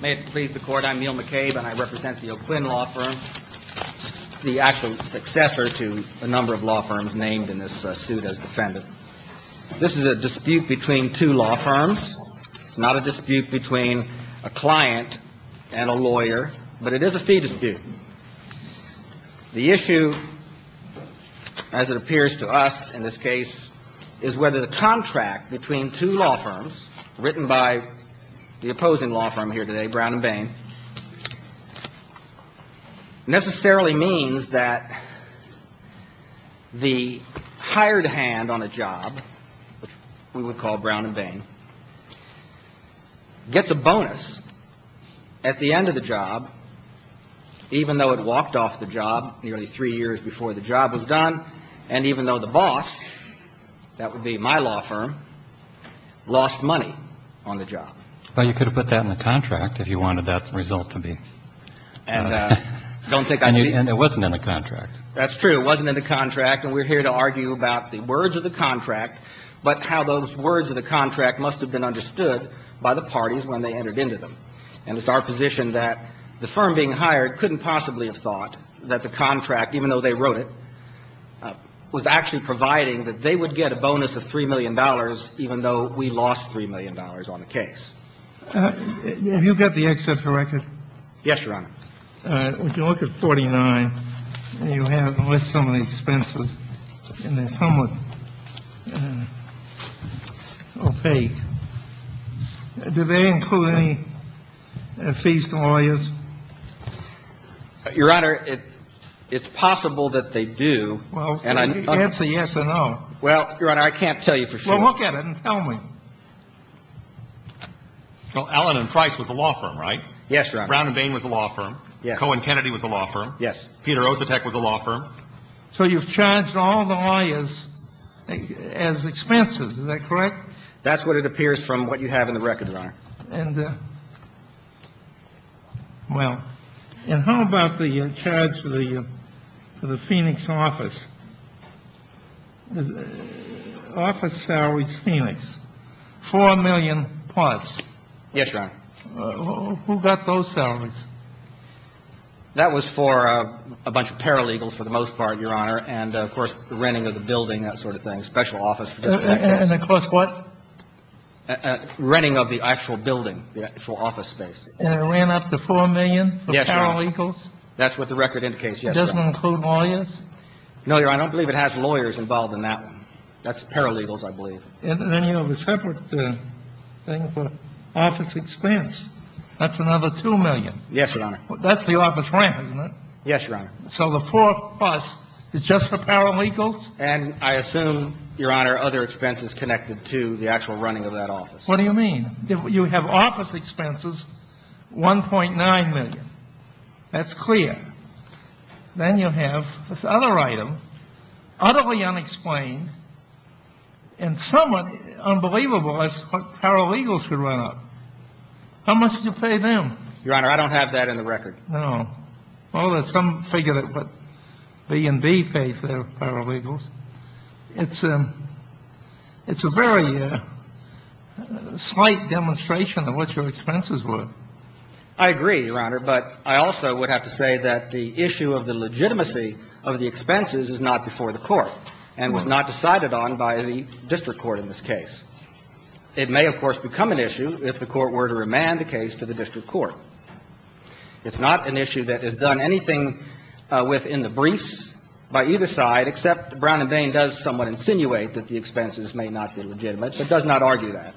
May it please the Court, I'm Neal McCabe and I represent the O'Quinn Law Firm, the actual successor to a number of law firms named in this suit as defendant. This is a dispute between two law firms. It's not a dispute between a client and a lawyer, but it is a fee dispute. The issue, as it appears to us in this case, is whether the contract between two law firms written by the opposing law firm here today, Brown & Bain, necessarily means that the hired hand on a job, which we would call Brown & Bain, gets a bonus at the end of the job, even though it walked off the job nearly three years before the job was done, and even though the boss, that would be my law firm, lost money on the job. Well, you could have put that in the contract if you wanted that result to be. And don't think I did. And it wasn't in the contract. That's true. It wasn't in the contract. And we're here to argue about the words of the contract, but how those words of the contract must have been understood by the parties when they entered into them. And it's our position that the firm being hired couldn't possibly have thought that the contract, even though they wrote it, was actually providing that they would get a bonus of $3 million even though we lost $3 million on the case. Have you got the excerpt for record? Yes, Your Honor. If you look at 49, you have, with some of the expenses, and they're somewhat opaque. Do they include any fees to lawyers? Your Honor, it's possible that they do. Well, answer yes or no. Well, Your Honor, I can't tell you for sure. Well, look at it and tell me. Well, Allen and Price was the law firm, right? Yes, Your Honor. Brown and Bain was the law firm. Cohen and Kennedy was the law firm. Yes. Peter Osetek was the law firm. So you've charged all the lawyers as expenses. Is that correct? That's what it appears from what you have in the record, Your Honor. Well, and how about the charge for the Phoenix office? Office salaries, Phoenix, $4 million plus. Yes, Your Honor. Who got those salaries? That was for a bunch of paralegals for the most part, Your Honor, and, of course, the renting of the building, that sort of thing, special office. And, of course, what? Renting of the actual building, the actual office space. And it ran up to $4 million for paralegals? That's what the record indicates, yes, Your Honor. Does it include lawyers? No, Your Honor, I don't believe it has lawyers involved in that one. That's paralegals, I believe. And then you have a separate thing for office expense. That's another $2 million. Yes, Your Honor. That's the office rent, isn't it? Yes, Your Honor. So the 4 plus is just for paralegals? And I assume, Your Honor, other expenses connected to the actual running of that office. What do you mean? You have office expenses, $1.9 million. That's clear. Then you have this other item, utterly unexplained and somewhat unbelievable as what paralegals could run up. How much did you pay them? Your Honor, I don't have that in the record. No. Well, some figure that what B&B paid for their paralegals. It's a very slight demonstration of what your expenses were. I agree, Your Honor, but I also would have to say that the issue of the legitimacy of the expenses is not before the court and was not decided on by the district court in this case. It may, of course, become an issue if the court were to remand the case to the district court. It's not an issue that is done anything within the briefs by either side, except Brown and Bain does somewhat insinuate that the expenses may not be legitimate, but does not argue that.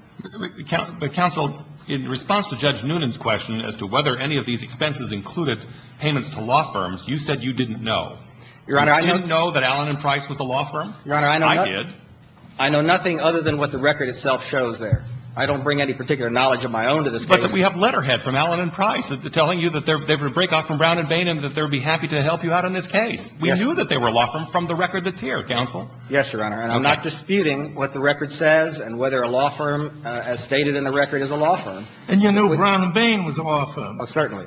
But, Counsel, in response to Judge Noonan's question as to whether any of these expenses included payments to law firms, you said you didn't know. Your Honor, I know. You didn't know that Allen & Price was a law firm? Your Honor, I know nothing. I did. I know nothing other than what the record itself shows there. I don't bring any particular knowledge of my own to this case. But we have letterhead from Allen & Price telling you that they would break off from Brown & Bain and that they would be happy to help you out on this case. We knew that they were a law firm from the record that's here, Counsel. Yes, Your Honor, and I'm not disputing what the record says and whether a law firm as stated in the record is a law firm. And you knew Brown & Bain was a law firm? Certainly.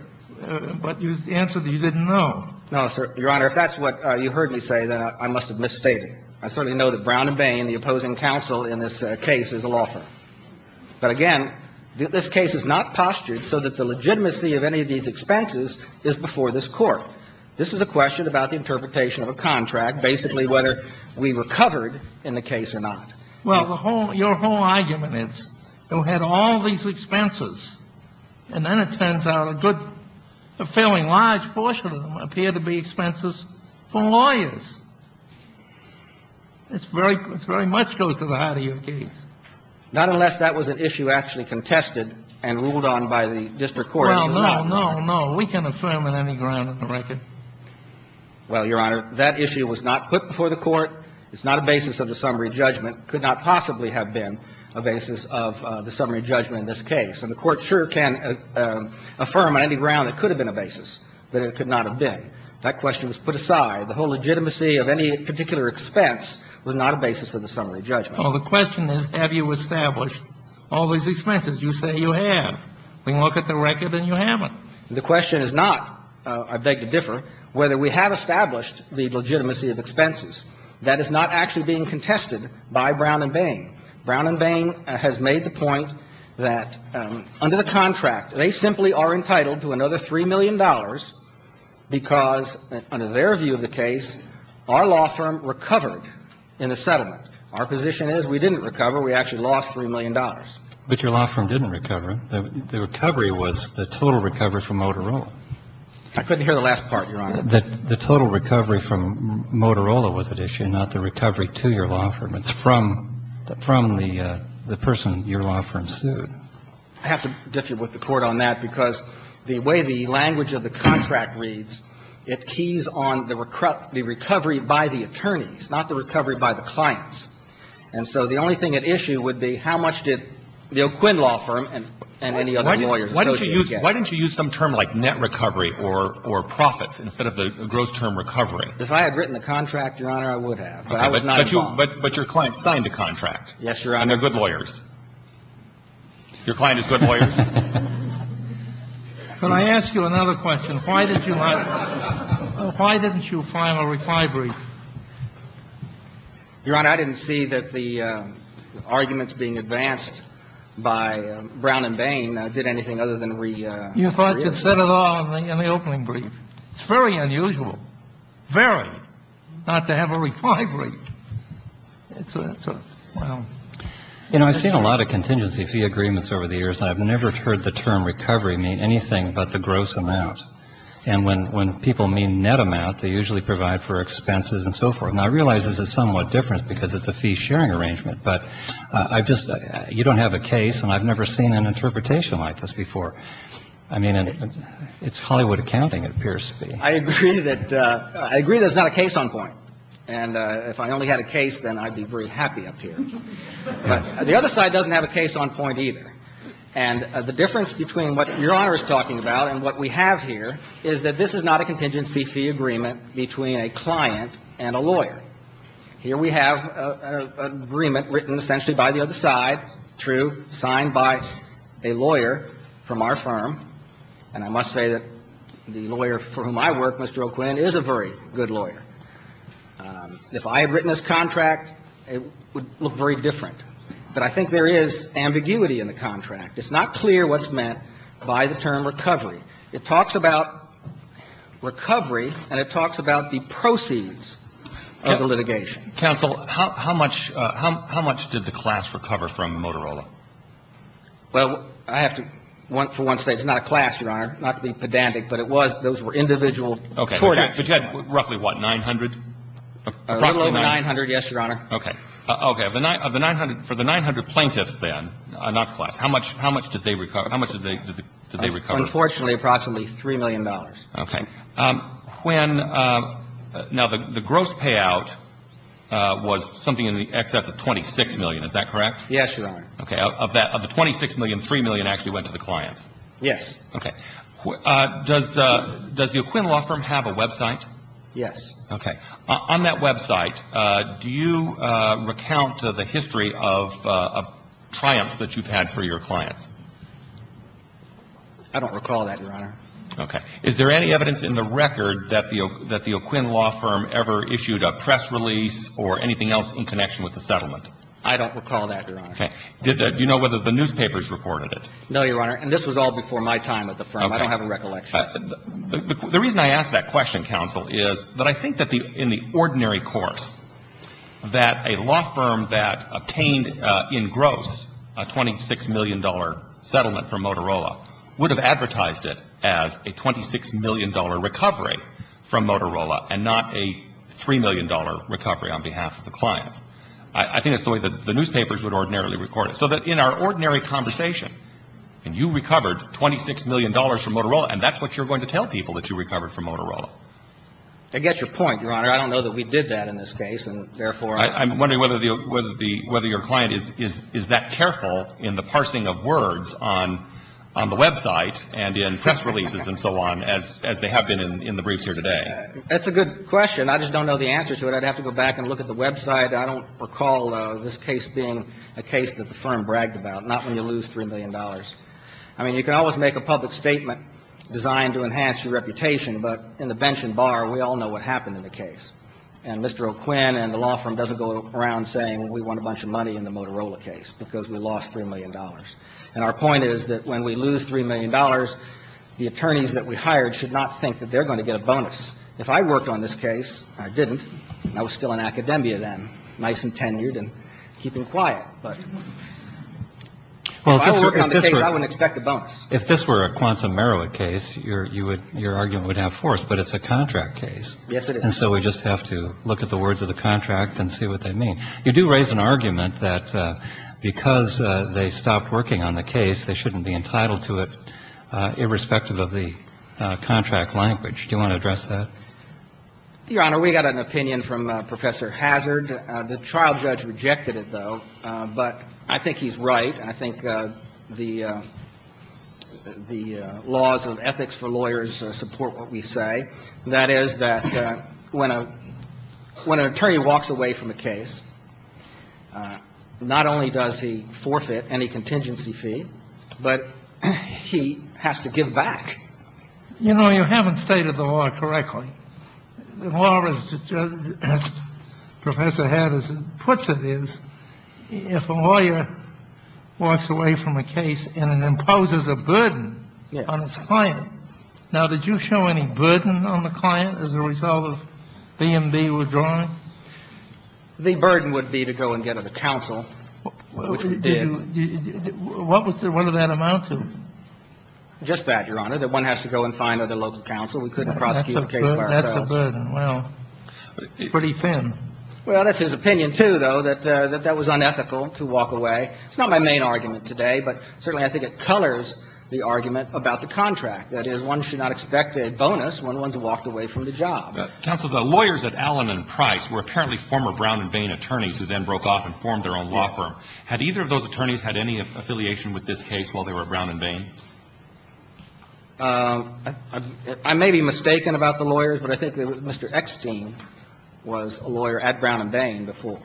But you answered that you didn't know. No, Your Honor, if that's what you heard me say, then I must have misstated. I certainly know that Brown & Bain, the opposing counsel in this case, is a law firm. But again, this case is not postured so that the legitimacy of any of these expenses is before this Court. This is a question about the interpretation of a contract, basically whether we were covered in the case or not. Well, your whole argument is, you had all these expenses, and then it turns out a good, a fairly large portion of them appear to be expenses for lawyers. It's very much goes to the heart of your case. Not unless that was an issue actually contested and ruled on by the district court. Well, no, no, no. We can affirm on any ground in the record. Well, Your Honor, that issue was not put before the Court. It's not a basis of the summary judgment. It could not possibly have been a basis of the summary judgment in this case. And the Court sure can affirm on any ground it could have been a basis, but it could not have been. That question was put aside. The whole legitimacy of any particular expense was not a basis of the summary judgment. Well, the question is, have you established all these expenses? You say you have. We look at the record, and you haven't. The question is not, I beg to differ, whether we have established the legitimacy of expenses. That is not actually being contested by Brown and Bain. Brown and Bain has made the point that under the contract, they simply are entitled to another $3 million because, under their view of the case, our law firm recovered in a settlement. Our position is we didn't recover. We actually lost $3 million. But your law firm didn't recover. The recovery was the total recovery from Motorola. I couldn't hear the last part, Your Honor. The total recovery from Motorola was at issue, not the recovery to your law firm. It's from the person your law firm sued. I have to differ with the Court on that because the way the language of the contract reads, it keys on the recovery by the attorneys, not the recovery by the clients. And so the only thing at issue would be how much did the O'Quinn Law Firm and any other lawyers associated with it get. Why didn't you use some term like net recovery or profits instead of the gross term recovery? If I had written the contract, Your Honor, I would have, but I was not involved. But your client signed the contract. Yes, Your Honor. And they're good lawyers. Your client is good lawyers? Could I ask you another question? Why did you not – why didn't you file a refi brief? Your Honor, I didn't see that the arguments being advanced by Brown and Bain did anything other than reiterate. You thought you said it all in the opening brief. It's very unusual, very, not to have a refi brief. It's a – well. You know, I've seen a lot of contingency fee agreements over the years. I've never heard the term recovery mean anything but the gross amount. And when people mean net amount, they usually provide for expenses and so forth. And I realize this is somewhat different because it's a fee-sharing arrangement. But I've just – you don't have a case, and I've never seen an interpretation like this before. I mean, it's Hollywood accounting, it appears to be. I agree that – I agree there's not a case on point. And if I only had a case, then I'd be very happy up here. The other side doesn't have a case on point either. And the difference between what Your Honor is talking about and what we have here is that this is not a contingency fee agreement between a client and a lawyer. Here we have an agreement written essentially by the other side, true, signed by a lawyer from our firm. And I must say that the lawyer for whom I work, Mr. O'Quinn, is a very good lawyer. If I had written this contract, it would look very different. But I think there is ambiguity in the contract. It's not clear what's meant by the term recovery. It talks about recovery, and it talks about the proceeds of the litigation. Counsel, how much – how much did the class recover from Motorola? Well, I have to, for once, say it's not a class, Your Honor, not to be pedantic, but it was – those were individual tort actions. Okay. But you had roughly what, 900? Approximately 900, yes, Your Honor. Okay. Okay. Of the 900 – for the 900 plaintiffs, then, not class, how much – how much did they recover? How much did they recover? Unfortunately, approximately $3 million. Okay. When – now, the gross payout was something in the excess of 26 million, is that correct? Yes, Your Honor. Okay. Of that, of the 26 million, 3 million actually went to the clients? Yes. Okay. Does the – does the O'Quinn law firm have a website? Yes. Okay. On that website, do you recount the history of triumphs that you've had for your clients? I don't recall that, Your Honor. Okay. Is there any evidence in the record that the – that the O'Quinn law firm ever issued a press release or anything else in connection with the settlement? I don't recall that, Your Honor. Okay. Did – do you know whether the newspapers reported it? No, Your Honor, and this was all before my time at the firm. Okay. I don't have a recollection. The reason I ask that question, counsel, is that I think that the – in the ordinary course, that a law firm that obtained in gross a $26 million settlement from Motorola would have advertised it as a $26 million recovery from Motorola and not a $3 million recovery on behalf of the clients. I think that's the way that the newspapers would ordinarily record it. So that in our ordinary conversation, and you recovered $26 million from Motorola, and that's what you're going to tell people, that you recovered from Motorola. I get your point, Your Honor. I don't know that we did that in this case, and therefore – I'm wondering whether the – whether your client is that careful in the parsing of words on the website and in press releases and so on as they have been in the briefs here today. That's a good question. I just don't know the answer to it. I'd have to go back and look at the website. I don't recall this case being a case that the firm bragged about. Not when you lose $3 million. I mean, you can always make a public statement designed to enhance your reputation, but in the bench and bar, we all know what happened in the case. And Mr. O'Quinn and the law firm doesn't go around saying we won a bunch of money in the Motorola case because we lost $3 million. And our point is that when we lose $3 million, the attorneys that we hired should not think that they're going to get a bonus. If I worked on this case, I didn't. I was still in academia then, nice and tenured and keeping quiet. But if I were working on the case, I wouldn't expect a bonus. If this were a quantum merit case, your argument would have force. But it's a contract case. Yes, it is. And so we just have to look at the words of the contract and see what they mean. You do raise an argument that because they stopped working on the case, they shouldn't be entitled to it irrespective of the contract language. Do you want to address that? Your Honor, we got an opinion from Professor Hazard. The trial judge rejected it, though. But I think he's right. I think the laws of ethics for lawyers support what we say. That is that when an attorney walks away from a case, not only does he forfeit any contingency fee, but he has to give back. You know, you haven't stated the law correctly. The law, as Professor Hazard puts it, is if a lawyer walks away from a case and it imposes a burden on its client. Now, did you show any burden on the client as a result of B&B withdrawing? The burden would be to go and get a counsel, which we did. What was the amount of it? Just that, Your Honor, that one has to go and find other local counsel. We couldn't prosecute a case by ourselves. That's a burden. Well, pretty thin. Well, that's his opinion, too, though, that that was unethical to walk away. It's not my main argument today, but certainly I think it colors the argument about the contract. That is, one should not expect a bonus when one's walked away from the job. Counsel, the lawyers at Allen and Price were apparently former Brown and Vane attorneys who then broke off and formed their own law firm. Had either of those attorneys had any affiliation with this case while they were at Brown and Vane? I may be mistaken about the lawyers, but I think that Mr. Ekstein was a lawyer at Brown and Vane before.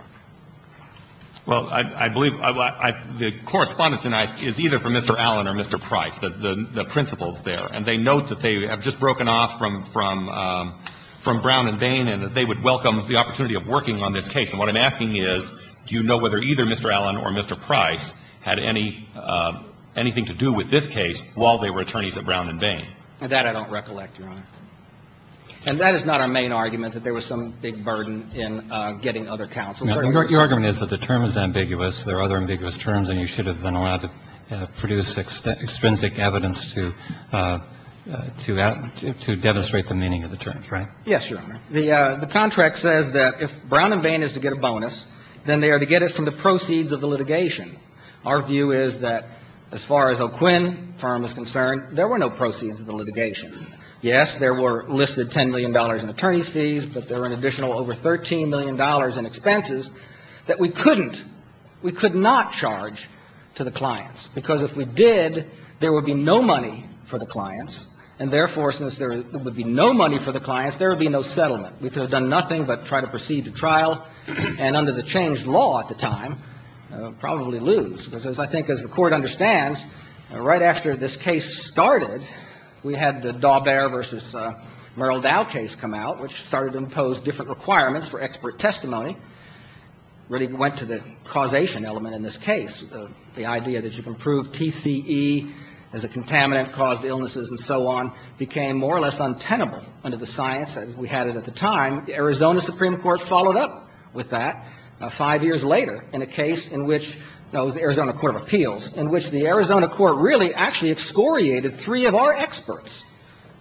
Well, I believe the correspondence is either from Mr. Allen or Mr. Price, the principals there. And they note that they have just broken off from Brown and Vane and that they would welcome the opportunity of working on this case. And what I'm asking is, do you know whether either Mr. Allen or Mr. Price had anything to do with this case while they were attorneys at Brown and Vane? That I don't recollect, Your Honor. And that is not our main argument, that there was some big burden in getting other counsel. Your argument is that the term is ambiguous. There are other ambiguous terms, and you should have been allowed to produce extrinsic evidence to demonstrate the meaning of the terms, right? Yes, Your Honor. The contract says that if Brown and Vane is to get a bonus, then they are to get it from the proceeds of the litigation. Our view is that as far as O'Quinn firm is concerned, there were no proceeds of the litigation. Yes, there were listed $10 million in attorney's fees, but there were an additional over $13 million in expenses that we couldn't, we could not charge to the clients. Because if we did, there would be no money for the clients, and therefore, since there would be no money for the clients, there would be no settlement. We could have done nothing but try to proceed to trial, and under the changed law at the time, probably lose. Because as I think as the Court understands, right after this case started, we had the Daubert v. Merle Dow case come out, which started to impose different requirements for expert testimony, really went to the causation element in this case. The idea that you can prove TCE as a contaminant caused illnesses and so on became more or less untenable under the science that we had at the time. The Arizona Supreme Court followed up with that five years later in a case in which the Arizona Court of Appeals, in which the Arizona Court really actually excoriated three of our experts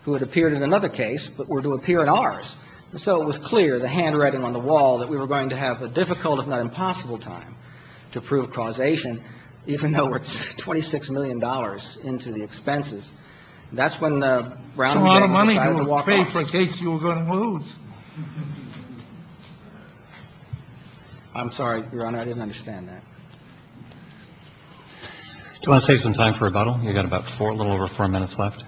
who had appeared in another case but were to appear in ours. And so it was clear, the handwriting on the wall, that we were going to have a difficult if not impossible time to prove causation, even though it's $26 million into the expenses. That's when Brown v. Merle decided to walk off the case. Look at the size on the prior of the information we got yourself, but we paid the money we as they were going to pay for a case you were going to lose. I'm sorry, Your Honor, I didn't understand that. You want to save some time for rebuttal. We've got about a little over four minutes left.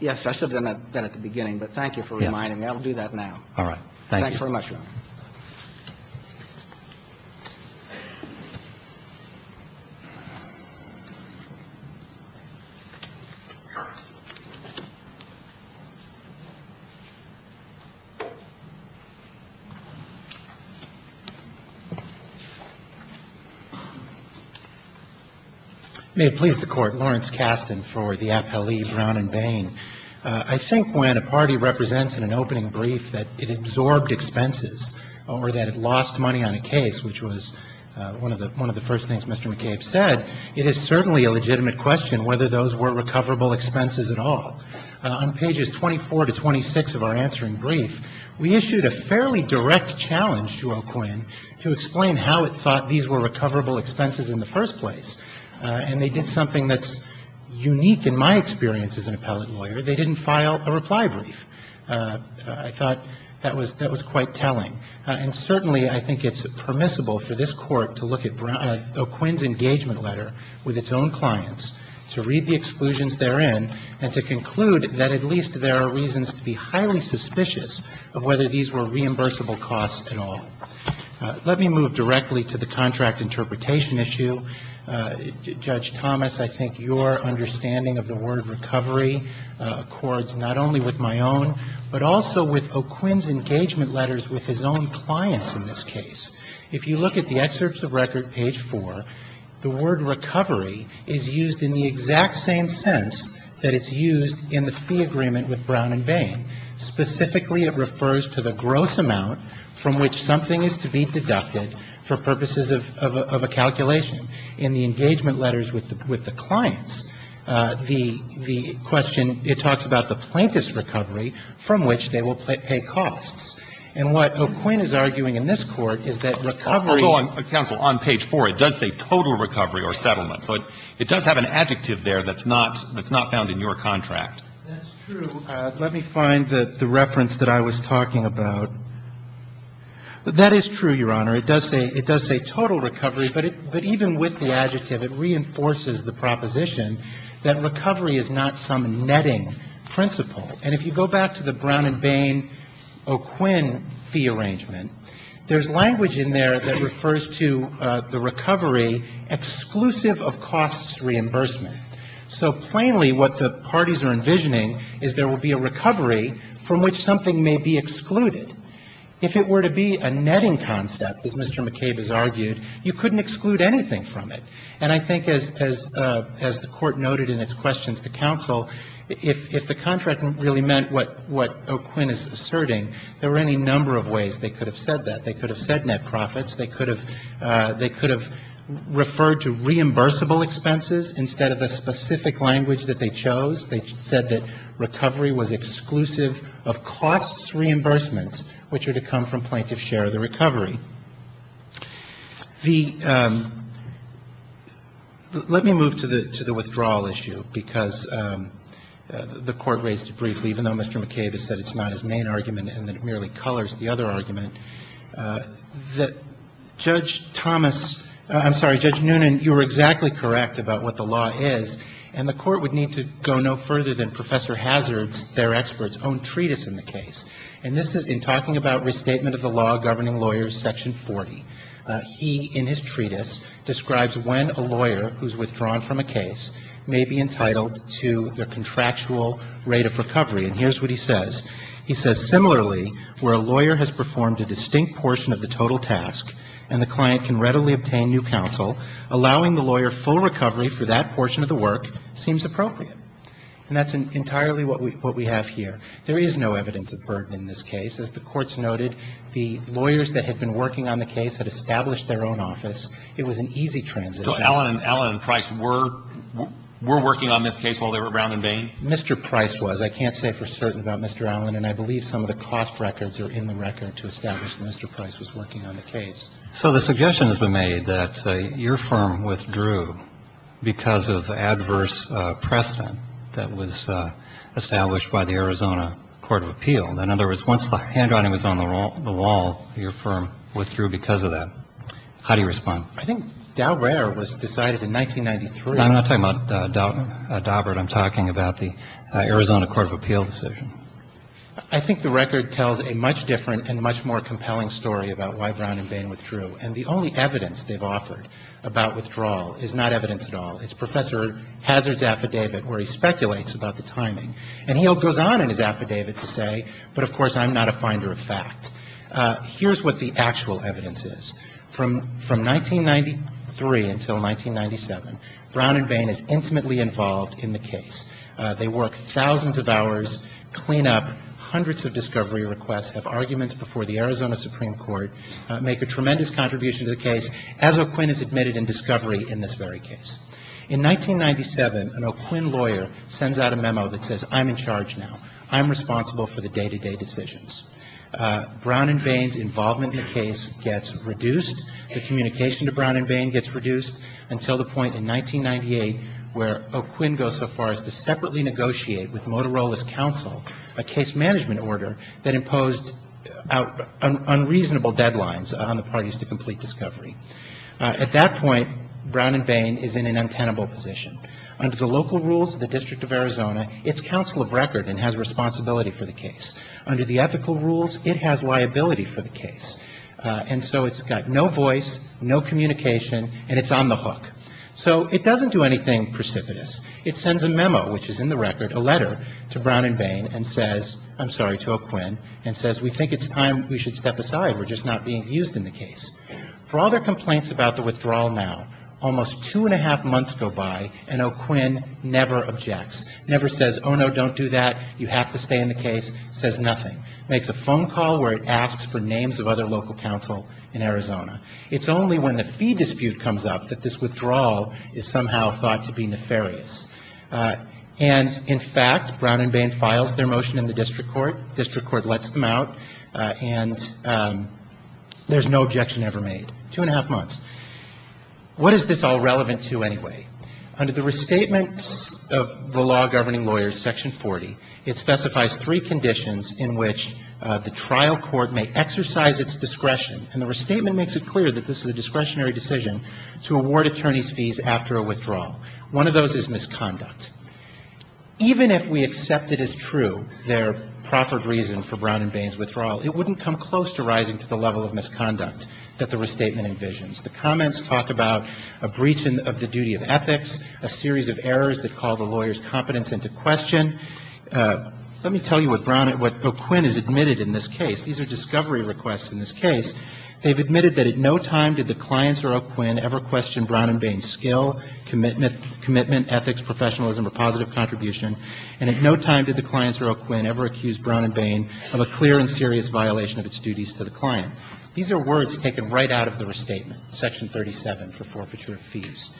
Yes. I said that at the beginning. But thank you for reminding me. I'll do that now. All right. Thank you. Thanks very much, Your Honor. May it please the Court. Lawrence Kasten for the appellee, Brown and Bain. I think when a party represents in an opening brief that it absorbed expenses or that it lost money on a case, which was one of the first things Mr. McCabe said, it is certainly a legitimate question whether those were recoverable expenses at all. On pages 24 to 26 of our answering brief, we issued a fairly direct challenge to O'Quinn to explain how it thought these were recoverable expenses in the first place. And they did something that's unique in my experience as an appellate lawyer. They didn't file a reply brief. I thought that was quite telling. And certainly I think it's permissible for this Court to look at O'Quinn's engagement letter with its own clients, to read the exclusions therein, and to conclude that at least there are reasons to be highly suspicious of whether these were reimbursable costs at all. Let me move directly to the contract interpretation issue. Judge Thomas, I think your understanding of the word recovery accords not only with my own, but also with O'Quinn's engagement letters with his own clients in this case. If you look at the excerpts of record, page 4, the word recovery is used in the exact same sense that it's used in the fee agreement with Brown and Bain. Specifically, it refers to the gross amount from which something is to be deducted for purposes of a calculation. In the engagement letters with the clients, the question, it talks about the plaintiff's recovery from which they will pay costs. And what O'Quinn is arguing in this Court is that recovery – Although, counsel, on page 4, it does say total recovery or settlement. So it does have an adjective there that's not found in your contract. That's true. Let me find the reference that I was talking about. That is true, Your Honor. It does say total recovery, but even with the adjective, it reinforces the proposition that recovery is not some netting principle. And if you go back to the Brown and Bain, O'Quinn fee arrangement, there's language in there that refers to the recovery exclusive of costs reimbursement. So plainly, what the parties are envisioning is there will be a recovery from which something may be excluded. If it were to be a netting concept, as Mr. McCabe has argued, you couldn't exclude anything from it. And I think as the Court noted in its questions to counsel, if the contract really meant what O'Quinn is asserting, there are any number of ways they could have said that. They could have said net profits. They could have referred to reimbursable expenses instead of a specific language that they chose. They said that recovery was exclusive of costs reimbursements, which are to come from plaintiff's share of the recovery. The – let me move to the withdrawal issue, because the Court raised it briefly, even though Mr. McCabe has said it's not his main argument and that it merely colors the other argument. Judge Thomas – I'm sorry, Judge Noonan, you were exactly correct about what the law is, and the Court would need to go no further than Professor Hazard's, their expert's, own treatise in the case. And this is in talking about restatement of the law governing lawyers, section 40. He, in his treatise, describes when a lawyer who's withdrawn from a case may be entitled to their contractual rate of recovery. And here's what he says. He says, And that's entirely what we have here. There is no evidence of burden in this case. As the Court's noted, the lawyers that had been working on the case had established their own office. It was an easy transition. So Allen and Price were working on this case while they were around in Bain? Mr. Price was. I can't say for certain about Mr. Allen, and I believe some of the cost records are in the record to establish that Mr. Price was working on the case. So the suggestion has been made that your firm withdrew because of adverse precedent that was established by the Arizona Court of Appeal. In other words, once the handwriting was on the wall, your firm withdrew because of that. How do you respond? I think Daubert was decided in 1993. I'm not talking about Daubert. I'm talking about the Arizona Court of Appeal decision. I think the record tells a much different and much more compelling story about why Brown and Bain withdrew. And the only evidence they've offered about withdrawal is not evidence at all. It's Professor Hazard's affidavit where he speculates about the timing. And he goes on in his affidavit to say, but of course I'm not a finder of fact. Here's what the actual evidence is. From 1993 until 1997, Brown and Bain is intimately involved in the case. They work thousands of hours, clean up hundreds of discovery requests, have arguments before the Arizona Supreme Court, make a tremendous contribution to the case, as O'Quinn has admitted in discovery in this very case. In 1997, an O'Quinn lawyer sends out a memo that says, I'm in charge now. I'm responsible for the day-to-day decisions. Brown and Bain's involvement in the case gets reduced. The communication to Brown and Bain gets reduced until the point in 1998 where O'Quinn goes so far as to separately negotiate with Motorola's counsel a case management order that imposed unreasonable deadlines on the parties to complete discovery. At that point, Brown and Bain is in an untenable position. Under the local rules of the District of Arizona, it's counsel of record and has responsibility for the case. Under the ethical rules, it has liability for the case. And so it's got no voice, no communication, and it's on the hook. So it doesn't do anything precipitous. It sends a memo, which is in the record, a letter to Brown and Bain and says, I'm sorry, to O'Quinn, and says, we think it's time we should step aside. We're just not being used in the case. For all their complaints about the withdrawal now, almost two and a half months go by, and O'Quinn never objects, never says, oh no, don't do that. You have to stay in the case. Says nothing. Makes a phone call where it asks for names of other local counsel in Arizona. It's only when the fee dispute comes up that this withdrawal is somehow thought to be nefarious. And in fact, Brown and Bain files their motion in the district court. District court lets them out, and there's no objection ever made. Two and a half months. What is this all relevant to anyway? Under the restatements of the law governing lawyers, section 40, it specifies three conditions in which the trial court may exercise its discretion, and the restatement makes it clear that this is a discretionary decision to award attorney's fees after a withdrawal. One of those is misconduct. Even if we accept it as true, their proffered reason for Brown and Bain's withdrawal, it wouldn't come close to rising to the level of misconduct that the restatement envisions. The comments talk about a breach of the duty of ethics, a series of errors that call the lawyer's competence into question. Let me tell you what Brown and what O'Quinn has admitted in this case. These are discovery requests in this case. They've admitted that at no time did the clients or O'Quinn ever question Brown and Bain's skill, commitment, ethics, professionalism, or positive contribution, and at no time did the clients or O'Quinn ever accuse Brown and Bain of a clear and serious violation of its duties to the client. These are words taken right out of the restatement, section 37, for forfeiture of fees.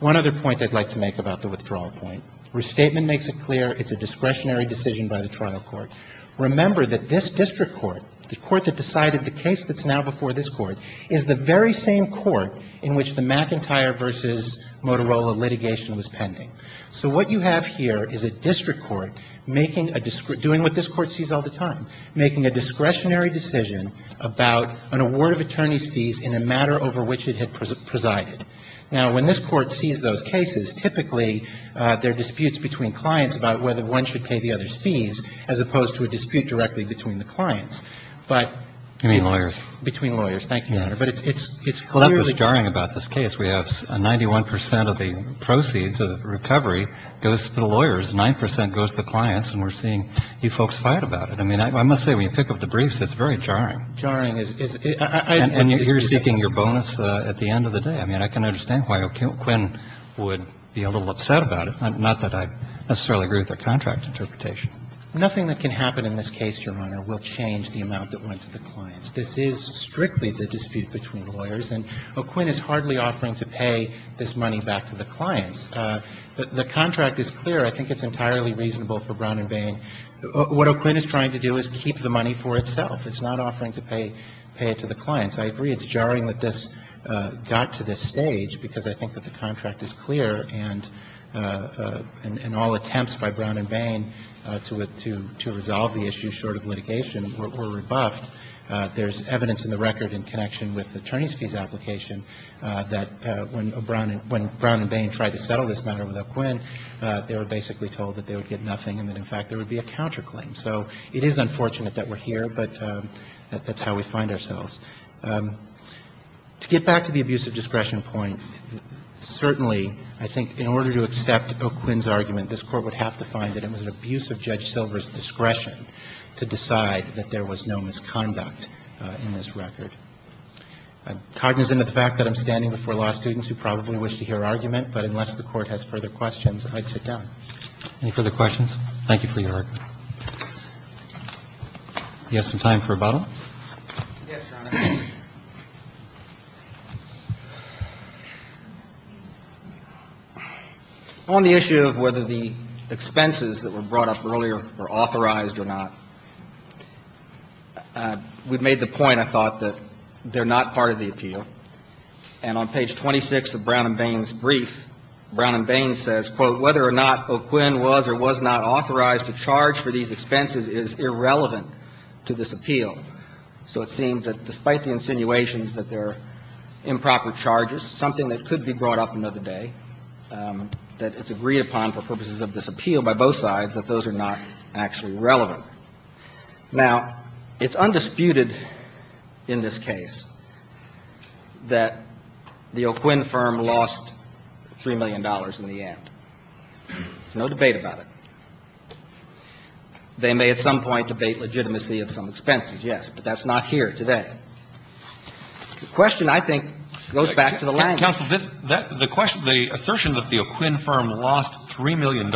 One other point I'd like to make about the withdrawal point. Restatement makes it clear it's a discretionary decision by the trial court. Remember that this district court, the court that decided the case that's now before this court, is the very same court in which the McIntyre v. Motorola litigation was pending. So what you have here is a district court making a doing what this court sees all the time, making a discretionary decision about an award of attorney's fees in a matter over which it had presided. Now, when this court sees those cases, typically there are disputes between clients about whether one should pay the other's fees as opposed to a dispute directly between the clients. But you mean lawyers? Between lawyers. Thank you, Your Honor. But it's clearly clear. Well, that's what's jarring about this case. We have 91 percent of the proceeds of the recovery goes to the lawyers, 9 percent goes to the clients, and we're seeing you folks fight about it. I mean, I must say, when you pick up the briefs, it's very jarring. Jarring is the reason. And you're seeking your bonus at the end of the day. I mean, I can understand why O'Quinn would be a little upset about it, not that I necessarily agree with their contract interpretation. Nothing that can happen in this case, Your Honor, will change the amount that went to the clients. This is strictly the dispute between lawyers, and O'Quinn is hardly offering to pay this money back to the clients. The contract is clear. I think it's entirely reasonable for Brown and Bain. What O'Quinn is trying to do is keep the money for itself. It's not offering to pay it to the clients. I agree. It's jarring that this got to this stage, because I think that the contract is clear, and all attempts by Brown and Bain to resolve the issue short of litigation were rebuffed. There's evidence in the record in connection with the attorney's fees application that when Brown and Bain tried to settle this matter with O'Quinn, they were basically told that they would get nothing and that, in fact, there would be a counterclaim. So it is unfortunate that we're here, but that's how we find ourselves. To get back to the abuse of discretion point, certainly, I think in order to accept O'Quinn's argument, this Court would have to find that it was an abuse of Judge Silver's discretion to decide that there was no misconduct in this record. I'm cognizant of the fact that I'm standing before law students who probably wish to hear argument, but unless the Court has further questions, I'd sit down. Roberts, Jr.: Any further questions? Thank you for your argument. We have some time for rebuttal. Yes, Your Honor. On the issue of whether the expenses that were brought up earlier were authorized or not, we've made the point, I thought, that they're not part of the appeal. And on page 26 of Brown and Bain's brief, Brown and Bain says, quote, Whether or not O'Quinn was or was not authorized to charge for these expenses is irrelevant to this appeal. So it seems that despite the insinuations that they're improper charges, something that could be brought up another day, that it's agreed upon for purposes of this appeal by both sides, that those are not actually relevant. Now, it's undisputed in this case that the O'Quinn firm lost $3 million in the end. No debate about it. They may at some point debate legitimacy of some expenses, yes, but that's not here today. The question, I think, goes back to the language. Roberts, Jr.: Counsel, this – the question – the assertion that the O'Quinn firm lost $3 million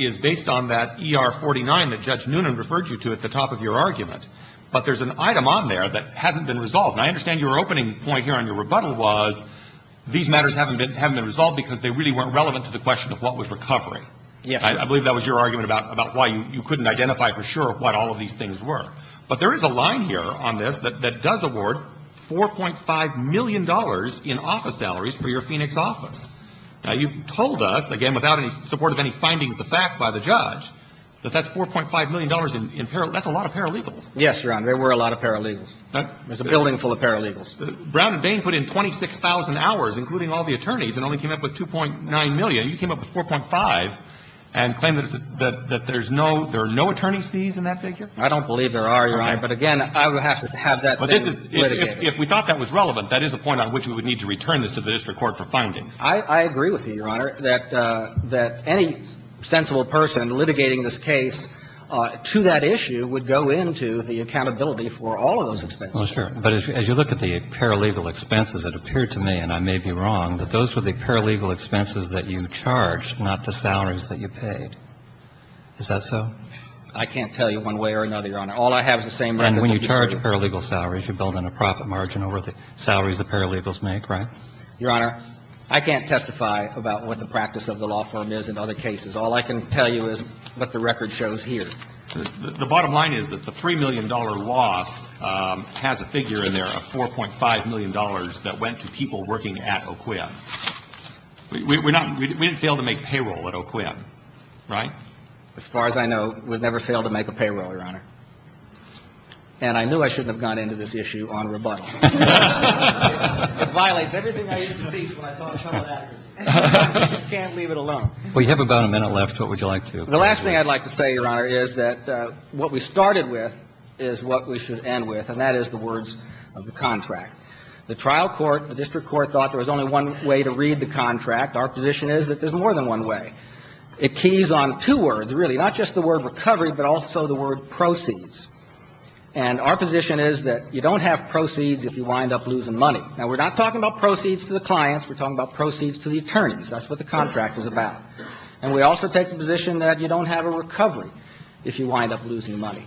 is based on that ER-49 that Judge Noonan referred you to at the top of your argument. But there's an item on there that hasn't been resolved. And I understand your opening point here on your rebuttal was these matters haven't been resolved because they really weren't relevant to the question of what was recovery. Yes, Your Honor. I believe that was your argument about why you couldn't identify for sure what all of these things were. But there is a line here on this that does award $4.5 million in office salaries for your Phoenix office. Now, you told us, again, without any support of any findings of fact by the judge, that that's $4.5 million in – that's a lot of paralegals. Yes, Your Honor. There were a lot of paralegals. There's a building full of paralegals. Brown and Bain put in 26,000 hours, including all the attorneys, and only came up with $2.9 million. You came up with $4.5 and claim that there's no – there are no attorney's fees in that figure? I don't believe there are, Your Honor. But again, I would have to have that thing litigated. But this is – if we thought that was relevant, that is a point on which we would need to return this to the district court for findings. I agree with you, Your Honor, that any sensible person litigating this case to that issue would go into the accountability for all of those expenses. Well, sure. But as you look at the paralegal expenses, it appeared to me, and I may be wrong, that those were the paralegal expenses that you charged, not the salaries that you paid. Is that so? I can't tell you one way or another, Your Honor. All I have is the same record. And when you charge paralegal salaries, you're building a profit margin over the salaries the paralegals make, right? Your Honor, I can't testify about what the practice of the law firm is in other All I can tell you is what the record shows here. The bottom line is that the $3 million loss has a figure in there of $4.5 million that went to people working at OQUIP. We didn't fail to make payroll at OQUIP, right? As far as I know, we've never failed to make a payroll, Your Honor. And I knew I shouldn't have gone into this issue on rebuttal. It violates everything I used to teach when I taught at Charlotte Acres. I just can't leave it alone. Well, you have about a minute left. What would you like to – The last thing I'd like to say, Your Honor, is that what we started with is what we should end with, and that is the words of the contract. The trial court, the district court, thought there was only one way to read the contract. Our position is that there's more than one way. It keys on two words, really, not just the word recovery, but also the word proceeds. And our position is that you don't have proceeds if you wind up losing money. Now, we're not talking about proceeds to the clients. We're talking about proceeds to the attorneys. That's what the contract is about. And we also take the position that you don't have a recovery if you wind up losing money.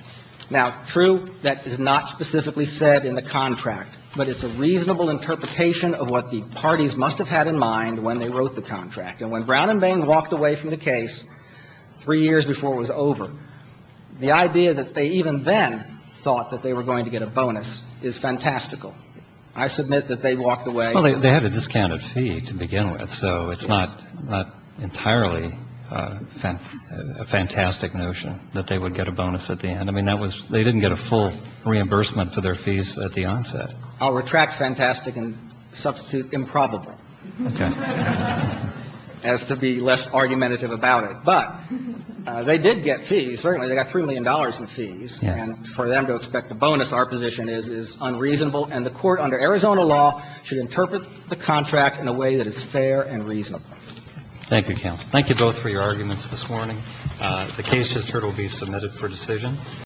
Now, true, that is not specifically said in the contract, but it's a reasonable interpretation of what the parties must have had in mind when they wrote the contract. And when Brown and Bain walked away from the case three years before it was over, the idea that they even then thought that they were going to get a bonus is fantastical. I submit that they walked away – Well, they had a discounted fee to begin with. So it's not entirely a fantastic notion that they would get a bonus at the end. I mean, that was – they didn't get a full reimbursement for their fees at the onset. I'll retract fantastic and substitute improbable. Okay. As to be less argumentative about it. But they did get fees. Certainly, they got $3 million in fees. Yes. And for them to expect a bonus, our position is unreasonable. And the Court, under Arizona law, should interpret the contract in a way that is fair and reasonable. Thank you, counsel. Thank you both for your arguments this morning. The case, as heard, will be submitted for decision.